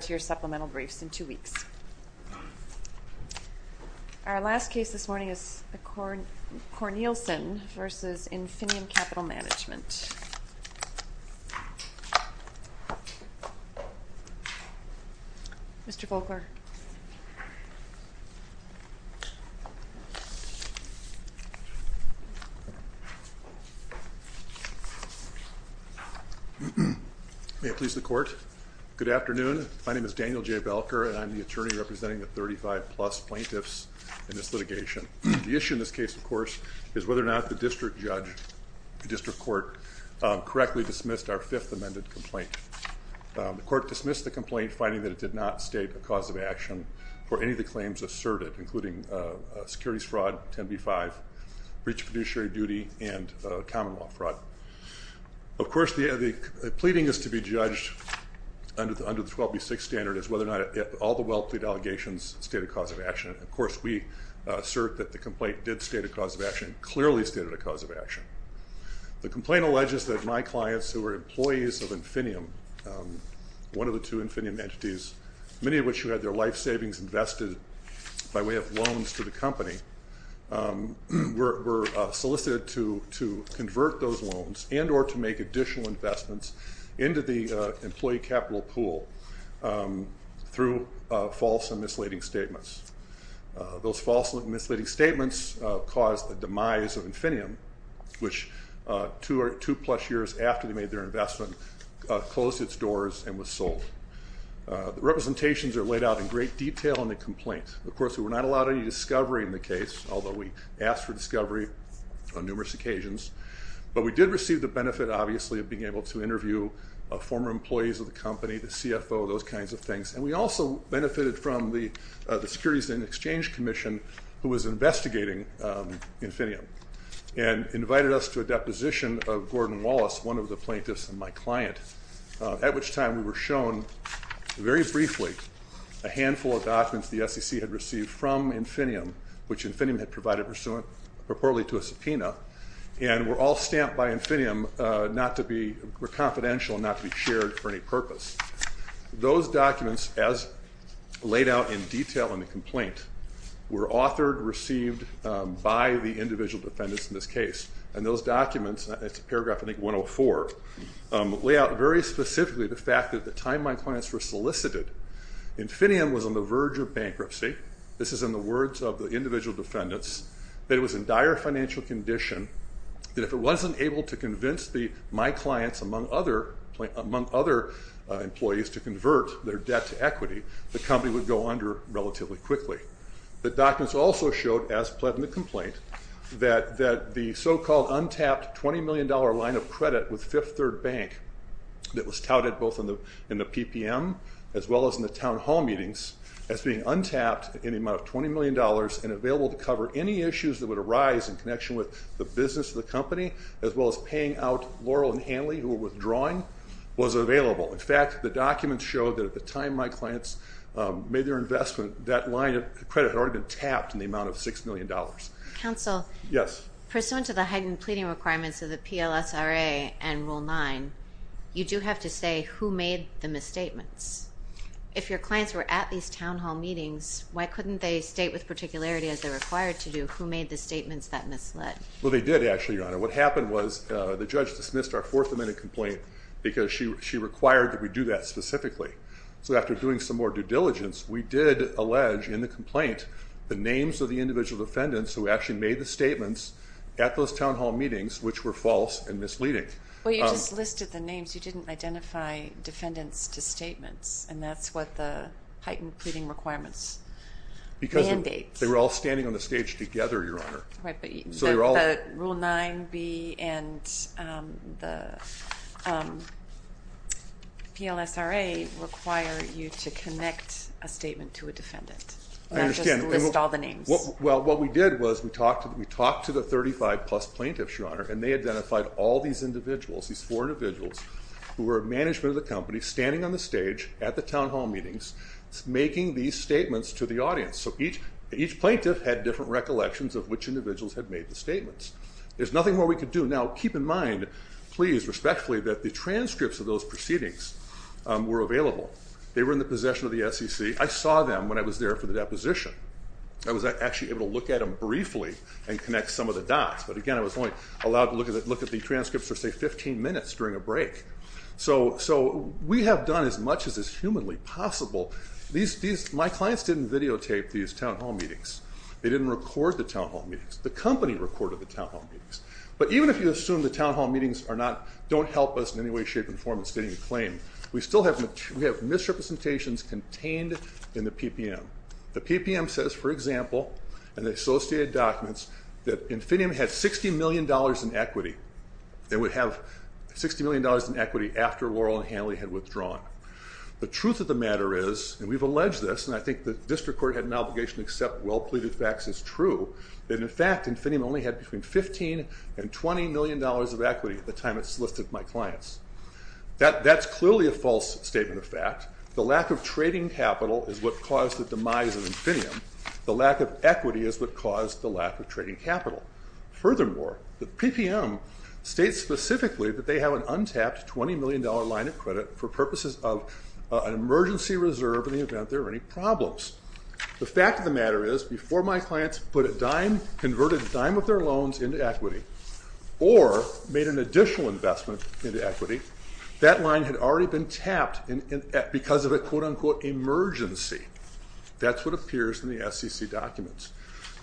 to your supplemental briefs in two weeks. Our last case this morning is Cornielsen v. Infinium Capital Management. Mr. Volkler. May it please the court. Good afternoon. My name is Daniel J. Volkler and I'm the attorney representing the 35 plus plaintiffs in this litigation. The issue in this case, of course, is whether or not the district judge, the district court, correctly dismissed our fifth amended complaint. The court dismissed the complaint, finding that it did not state a cause of action for any of the claims asserted, including securities fraud, 10b-5, breach of fiduciary duty, and common law fraud. Of course, the pleading is to be judged under the 12b-6 standard as whether or not all the well-plea allegations state a cause of action. Of course, we assert that the complaint did state a cause of action, clearly stated a cause of action. The complaint alleges that my clients, who were employees of Infinium, one of the two Infinium entities, many of which had their life savings invested by way of loans to the company, were solicited to convert those loans and or to make additional investments into the employee capital pool through false and misleading statements. Those false and misleading statements caused the demise of Infinium, which two plus years after they made their investment, closed its doors and was sold. The representations are laid out in great detail in the complaint. Of course, we were not allowed any discovery in the case, although we asked for discovery on numerous occasions, but we did receive the benefit, obviously, of being able to interview former employees of the company, the CFO, those kinds of things. And we also benefited from the Securities and Exchange Commission, who was investigating Infinium, and invited us to a deposition of Gordon Wallace, one of the plaintiffs and my client, at which time we were shown very briefly a handful of documents the SEC had received from Infinium, which Infinium had provided purportedly to a subpoena, and were all stamped by Infinium not to be confidential, not to be shared for any purpose. Those documents, as laid out in detail in the complaint, were authored, received by the individual defendants in this case. And those documents, it's paragraph I think 104, lay out very specifically the fact that at the time my clients were solicited, Infinium was on the verge of bankruptcy. This is in the words of the individual defendants, that it was in dire financial condition that if it wasn't able to convince my clients, among other employees, to convert their debt to equity, the company would go under relatively quickly. The documents also showed, as pled in the complaint, that the so-called untapped $20 million line of credit with Fifth Third Bank, that was touted both in the PPM, as well as in the town hall meetings, as being untapped in the amount of $20 million and available to cover any issues that would arise in connection with the business of the company, as well as paying out Laurel and Hanley, who were withdrawing, was available. In fact, the documents showed that at the time my clients made their investment, that line of credit had already been tapped in the amount of $6 million. Counsel? Yes. Pursuant to the heightened pleading requirements of the PLSRA and Rule 9, you do have to say who made the misstatements. If your clients were at these town hall meetings, why couldn't they state with particularity, as they're required to do, who made the statements that misled? Well, they did, actually, Your Honor. What happened was the judge dismissed our fourth amendment complaint because she required that we do that specifically. So after doing some more due diligence, we did allege in the complaint the names of the individual defendants who actually made the statements at those town hall meetings, which were false and misleading. Well, you just listed the names. You didn't identify defendants to statements, and that's what the heightened pleading requirements mandate. Because they were all standing on the stage together, Your Honor. Right, but Rule 9B and the PLSRA require you to connect a statement to a defendant. I understand. Not just list all the names. Well, what we did was we talked to the 35-plus plaintiffs, Your Honor, and they identified all these individuals, these four individuals, who were management of the company, standing on the stage at the town hall meetings, making these statements to the audience. So each plaintiff had different recollections of which individuals had made the statements. There's nothing more we could do. Now, keep in mind, please, respectfully, that the transcripts of those proceedings were available. They were in the possession of the SEC. I saw them when I was there for the deposition. I was actually able to look at them briefly and connect some of the dots. But again, I was only allowed to look at the transcripts for, say, 15 minutes during a break. So we have done as much as is humanly possible. My clients didn't videotape these town hall meetings. They didn't record the town hall meetings. The company recorded the town hall meetings. But even if you assume the town hall meetings don't help us in any way, shape, or form in stating a claim, we still have misrepresentations contained in the PPM. The PPM says, for example, and the associated documents, that Infinium had $60 million in equity. They would have $60 million in equity after Laurel and Hanley had withdrawn. The truth of the matter is, and we've alleged this, and I think the district court had an obligation to accept well-pleaded facts as true, that, in fact, Infinium only had between $15 and $20 million of equity at the time it solicited my clients. That's clearly a false statement of fact. The lack of trading capital is what caused the demise of Infinium. The lack of equity is what caused the lack of trading capital. Furthermore, the PPM states specifically that they have an untapped $20 million line of credit for purposes of an emergency reserve in the event there are any problems. The fact of the matter is, before my clients put a dime, converted a dime of their loans into equity or made an additional investment into equity, that line had already been tapped because of a quote-unquote emergency. That's what appears in the SEC documents.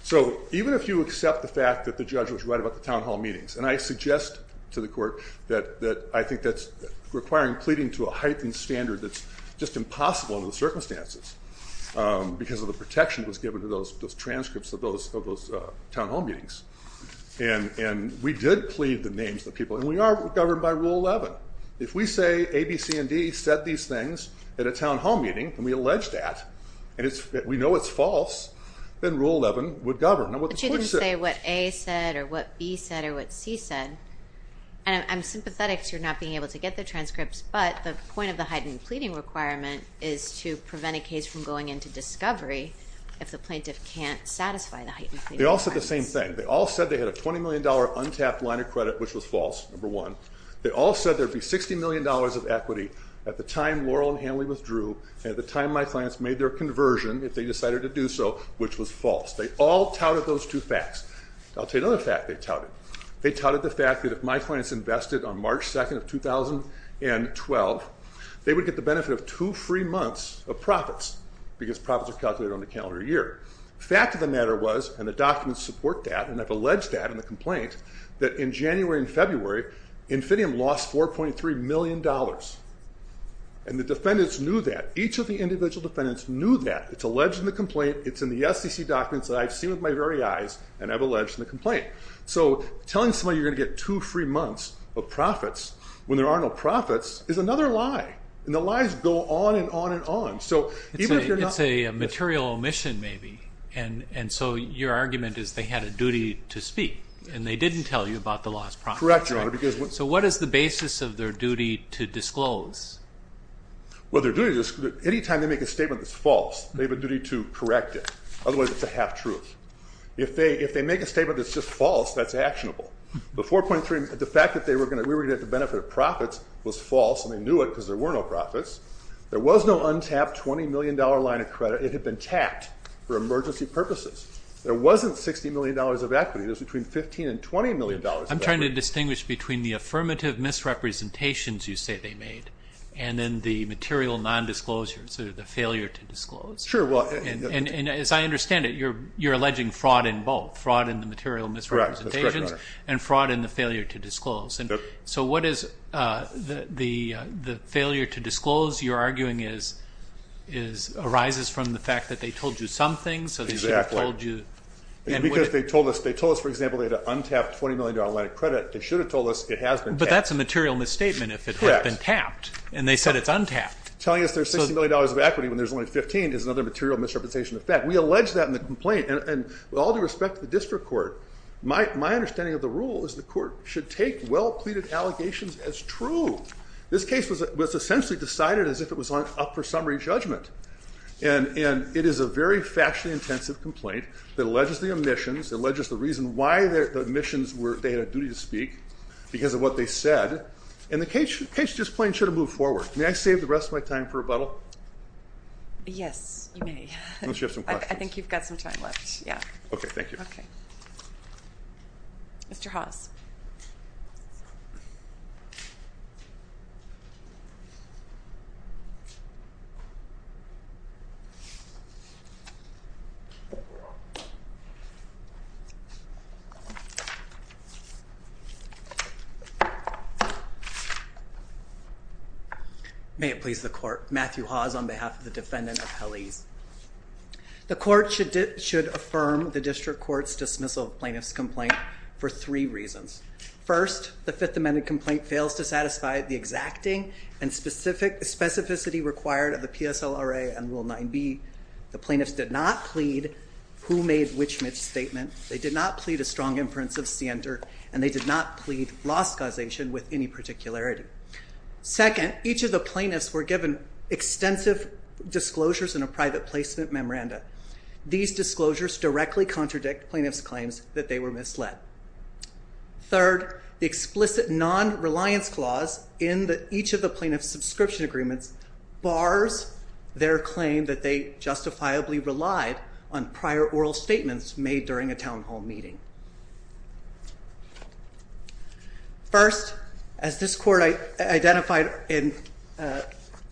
So even if you accept the fact that the judge was right about the town hall meetings, and I suggest to the court that I think that's requiring pleading to a heightened standard that's just impossible under the circumstances because of the protection that was given to those transcripts of those town hall meetings. And we did plead the names of the people, and we are governed by Rule 11. If we say A, B, C, and D said these things at a town hall meeting, and we allege that, and we know it's false, then Rule 11 would govern. But you didn't say what A said or what B said or what C said. And I'm sympathetic to your not being able to get the transcripts, but the point of the heightened pleading requirement is to prevent a case from going into discovery if the plaintiff can't satisfy the heightened pleading request. They all said the same thing. They all said they had a $20 million untapped line of credit, which was false, number one. They all said there would be $60 million of equity at the time Laurel and Hanley withdrew and at the time my clients made their conversion, if they decided to do so, which was false. They all touted those two facts. I'll tell you another fact they touted. They touted the fact that if my clients invested on March 2nd of 2012, they would get the benefit of two free months of profits because profits are calculated on the calendar year. The fact of the matter was, and the documents support that, and I've alleged that in the complaint, that in January and February, Infidium lost $4.3 million. And the defendants knew that. Each of the individual defendants knew that. It's alleged in the complaint. It's in the SEC documents that I've seen with my very eyes and I've alleged in the complaint. So telling somebody you're going to get two free months of profits when there are no profits is another lie. And the lies go on and on and on. It's a material omission maybe, and so your argument is they had a duty to speak and they didn't tell you about the lost profits. Correct, Your Honor. So what is the basis of their duty to disclose? Well, their duty to disclose, anytime they make a statement that's false, they have a duty to correct it, otherwise it's a half-truth. If they make a statement that's just false, that's actionable. The fact that we were going to get the benefit of profits was false, and they knew it because there were no profits. There was no untapped $20 million line of credit. It had been tapped for emergency purposes. There wasn't $60 million of equity. There was between $15 and $20 million of equity. I'm trying to distinguish between the affirmative misrepresentations you say they made and then the material nondisclosure, so the failure to disclose. Sure. And as I understand it, you're alleging fraud in both, fraud in the material misrepresentations and fraud in the failure to disclose. So what is the failure to disclose, you're arguing, arises from the fact that they told you something, so they should have told you. Exactly. Because they told us, for example, they had an untapped $20 million line of credit. They should have told us it has been tapped. But that's a material misstatement if it had been tapped, and they said it's untapped. Telling us there's $60 million of equity when there's only $15 is another material misrepresentation of fact. We allege that in the complaint, and with all due respect to the district court, my understanding of the rule is the court should take well-pleaded allegations as true. This case was essentially decided as if it was up for summary judgment, and it is a very factually intensive complaint that alleges the omissions, alleges the reason why the omissions were they had a duty to speak because of what they said, and the case just plain should have moved forward. May I save the rest of my time for rebuttal? Yes, you may. Unless you have some questions. I think you've got some time left, yeah. Okay, thank you. Okay. Mr. Hawes. May it please the court. Matthew Hawes on behalf of the defendant of Helly's. The court should affirm the district court's dismissal of plaintiff's complaint for three reasons. First, the Fifth Amendment complaint fails to satisfy the exacting and specificity required of the PSLRA and Rule 9b. The plaintiffs did not plead who made which misstatement. They did not plead a strong inference of scienter, and they did not plead loss causation with any particularity. Second, each of the plaintiffs were given extensive disclosures in a private placement memoranda. These disclosures directly contradict plaintiff's claims that they were misled. Third, the explicit non-reliance clause in each of the plaintiff's subscription agreements bars their claim that they justifiably relied on prior oral statements made during a town hall meeting. First, as this court identified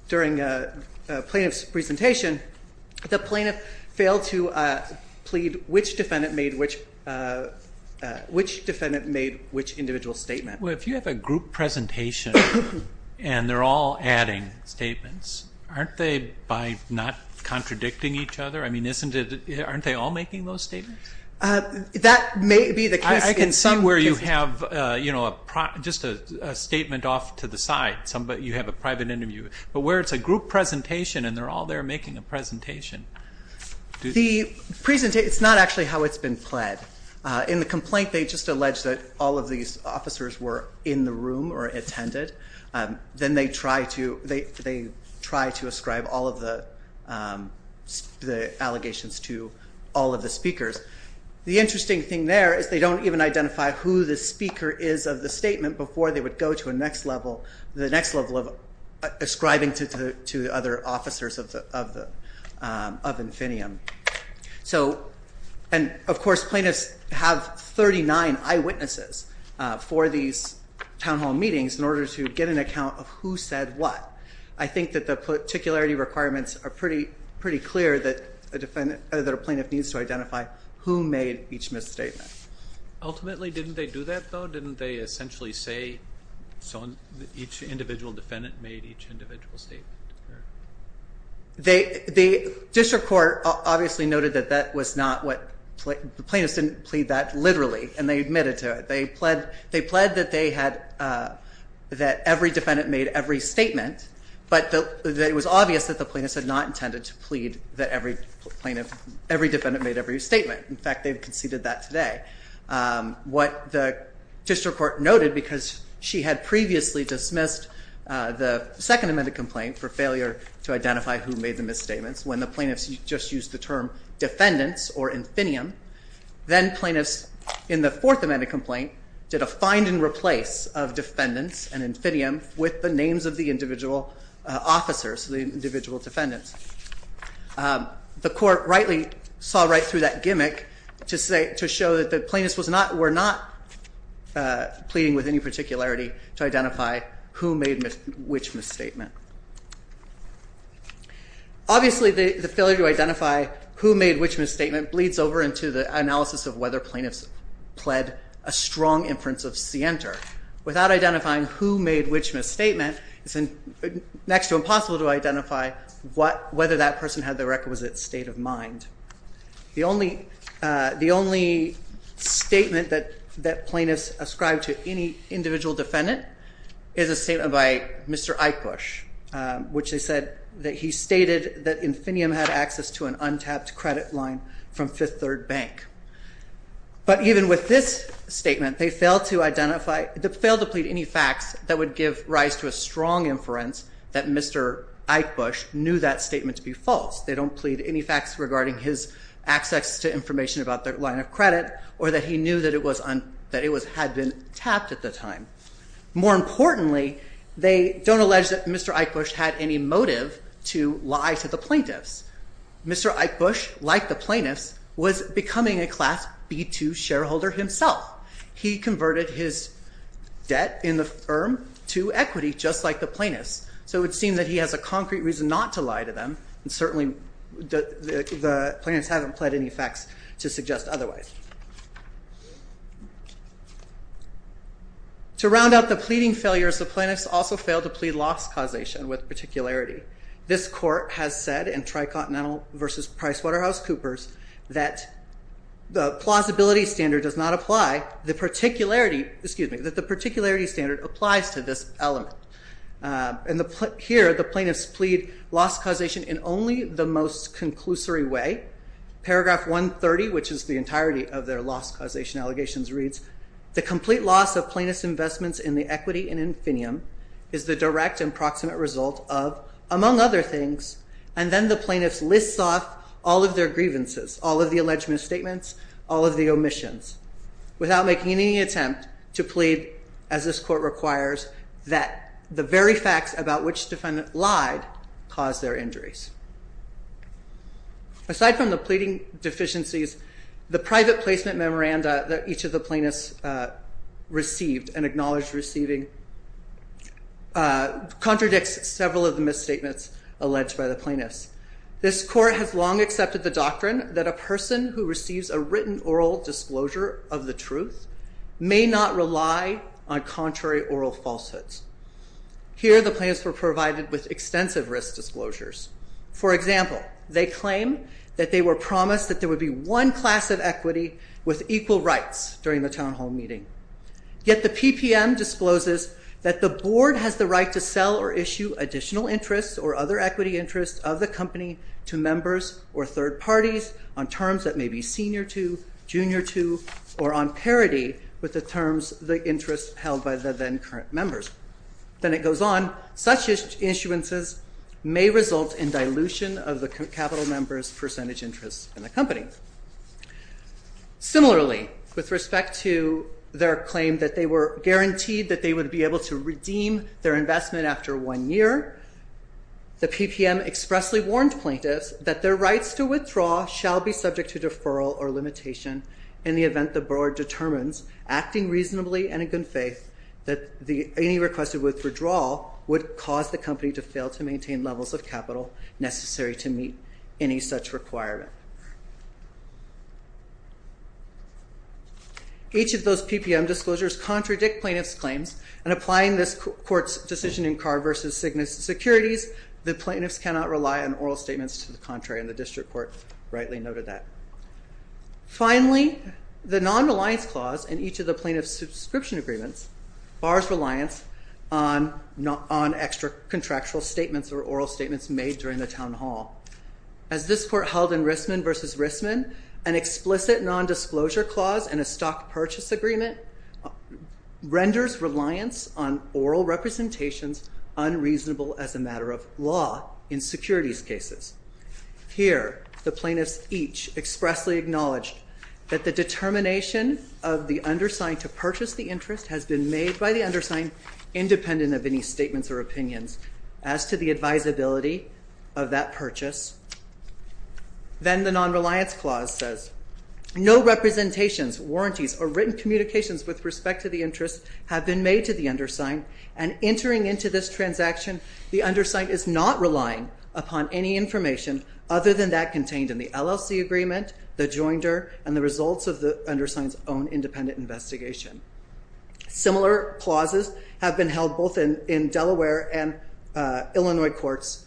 during a plaintiff's presentation, the plaintiff failed to plead which defendant made which individual statement. Well, if you have a group presentation and they're all adding statements, aren't they by not contradicting each other? I mean, aren't they all making those statements? That may be the case. I can see where you have just a statement off to the side. You have a private interview. But where it's a group presentation and they're all there making a presentation. It's not actually how it's been pled. In the complaint, they just allege that all of these officers were in the room or attended. Then they try to ascribe all of the allegations to all of the speakers. The interesting thing there is they don't even identify who the speaker is of the statement before they would go to the next level of ascribing to the other officers of Infinium. Of course, plaintiffs have 39 eyewitnesses for these town hall meetings in order to get an account of who said what. I think that the particularity requirements are pretty clear that a plaintiff needs to identify who made each misstatement. Ultimately, didn't they do that though? Didn't they essentially say each individual defendant made each individual statement? The district court obviously noted that that was not what the plaintiffs didn't plead that literally and they admitted to it. They pled that every defendant made every statement, but it was obvious that the plaintiffs had not intended to plead that every defendant made every statement. In fact, they conceded that today. What the district court noted because she had previously dismissed the second amended complaint for failure to identify who made the misstatements when the plaintiffs just used the term defendants or Infinium. Then plaintiffs in the fourth amended complaint did a find and replace of defendants and Infinium with the names of the individual officers, the individual defendants. The court rightly saw right through that gimmick to show that the plaintiffs were not pleading with any particularity to identify who made which misstatement. Obviously, the failure to identify who made which misstatement bleeds over into the analysis of whether plaintiffs pled a strong inference of scienter. Without identifying who made which misstatement, it's next to impossible to identify whether that person had the requisite state of mind. The only statement that plaintiffs ascribed to any individual defendant is a statement by Mr. Eichbusch, which they said that he stated that Infinium had access to an untapped credit line from Fifth Third Bank. But even with this statement, they failed to identify, they failed to plead any facts that would give rise to a strong inference that Mr. Eichbusch knew that statement to be false. They don't plead any facts regarding his access to information about their line of credit or that he knew that it was had been tapped at the time. More importantly, they don't allege that Mr. Eichbusch had any motive to lie to the plaintiffs. Mr. Eichbusch, like the plaintiffs, was becoming a Class B2 shareholder himself. He converted his debt in the firm to equity, just like the plaintiffs. So it would seem that he has a concrete reason not to lie to them, and certainly the plaintiffs haven't pled any facts to suggest otherwise. To round out the pleading failures, the plaintiffs also failed to plead loss causation with particularity. This court has said in Tricontinental v. PricewaterhouseCoopers that the particularity standard applies to this element. Here, the plaintiffs plead loss causation in only the most conclusory way. Paragraph 130, which is the entirety of their loss causation allegations, reads, The complete loss of plaintiffs' investments in the equity in Infinium is the direct and proximate result of, among other things, And then the plaintiffs lists off all of their grievances, all of the alleged misstatements, all of the omissions, without making any attempt to plead, as this court requires, that the very facts about which the defendant lied caused their injuries. Aside from the pleading deficiencies, the private placement memoranda that each of the plaintiffs received and acknowledged receiving contradicts several of the misstatements alleged by the plaintiffs. This court has long accepted the doctrine that a person who receives a written oral disclosure of the truth may not rely on contrary oral falsehoods. Here, the plaintiffs were provided with extensive risk disclosures. For example, they claim that they were promised that there would be one class of equity with equal rights during the town hall meeting. Yet the PPM discloses that the board has the right to sell or issue additional interests or other equity interests of the company to members or third parties on terms that may be senior to, junior to, or on parity with the terms, the interests held by the then current members. Then it goes on, such issuances may result in dilution of the capital members' percentage interests in the company. Similarly, with respect to their claim that they were guaranteed that they would be able to redeem their investment after one year, the PPM expressly warned plaintiffs that their rights to withdraw shall be subject to deferral or limitation in the event the board determines, acting reasonably and in good faith, that any requested withdrawal would cause the company to fail to maintain levels of capital necessary to meet any such requirement. Each of those PPM disclosures contradict plaintiffs' claims and applying this court's decision in Carr v. Cygnus to securities, the plaintiffs cannot rely on oral statements to the contrary, and the district court rightly noted that. Finally, the non-reliance clause in each of the plaintiffs' subscription agreements bars reliance on extra-contractual statements or oral statements made during the town hall. As this court held in Rissman v. Rissman, an explicit non-disclosure clause in a stock purchase agreement renders reliance on oral representations unreasonable as a matter of law in securities cases. Here, the plaintiffs each expressly acknowledged that the determination of the undersigned to purchase the interest has been made by the undersigned independent of any statements or opinions as to the advisability of that purchase. Then the non-reliance clause says no representations, warranties, or written communications with respect to the interest have been made to the undersigned and entering into this transaction the undersigned is not relying upon any information other than that contained in the LLC agreement, the joinder, and the results of the undersigned's own independent investigation. Similar clauses have been held both in Delaware and Illinois courts.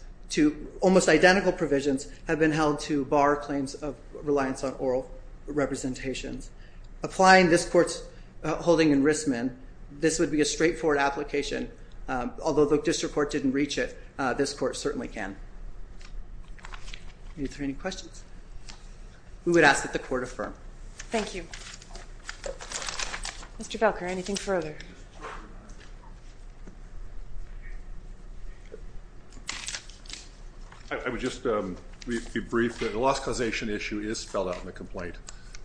Almost identical provisions have been held to bar claims of reliance on oral representations. Applying this court's holding in Rissman, this would be a straightforward application. Although the district court didn't reach it, this court certainly can. Are there any questions? We would ask that the court affirm. Thank you. Mr. Felker, anything further? I would just be brief. The loss causation issue is spelled out in the complaint.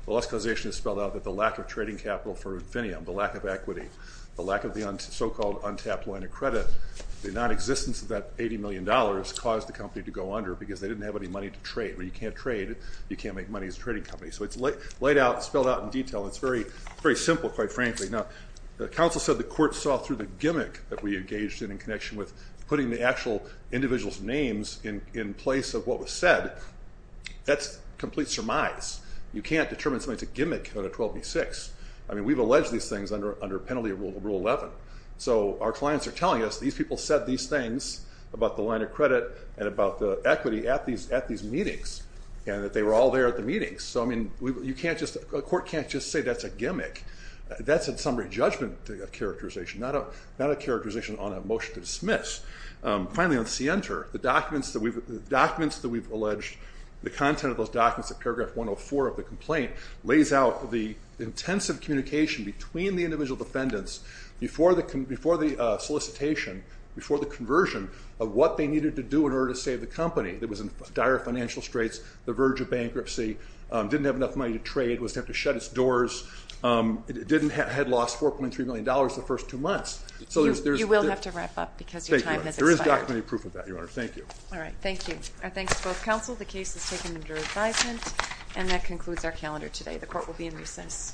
The loss causation is spelled out that the lack of trading capital for Infinium, the lack of equity, the lack of the so-called untapped line of credit, the nonexistence of that $80 million caused the company to go under because they didn't have any money to trade. When you can't trade, you can't make money as a trading company. So it's spelled out in detail. It's very simple, quite frankly. Now, the counsel said the court saw through the gimmick that we engaged in in connection with putting the actual individual's names in place of what was said. That's complete surmise. You can't determine something's a gimmick under 12B6. I mean, we've alleged these things under penalty rule 11. So our clients are telling us these people said these things about the line of credit and about the equity at these meetings and that they were all there at the meetings. So, I mean, a court can't just say that's a gimmick. That's a summary judgment characterization, not a characterization on a motion to dismiss. Finally, on CENTER, the documents that we've alleged, the content of those documents in paragraph 104 of the complaint lays out the intensive communication between the individual defendants before the solicitation, before the conversion of what they needed to do in order to save the company that was in dire financial straits, the verge of bankruptcy, didn't have enough money to trade, was tempted to shut its doors, had lost $4.3 million the first two months. You will have to wrap up because your time has expired. There is documentary proof of that, Your Honor. Thank you. All right, thank you. Our thanks to both counsel. The case is taken under advisement, and that concludes our calendar today. The court will be in recess. Thank you.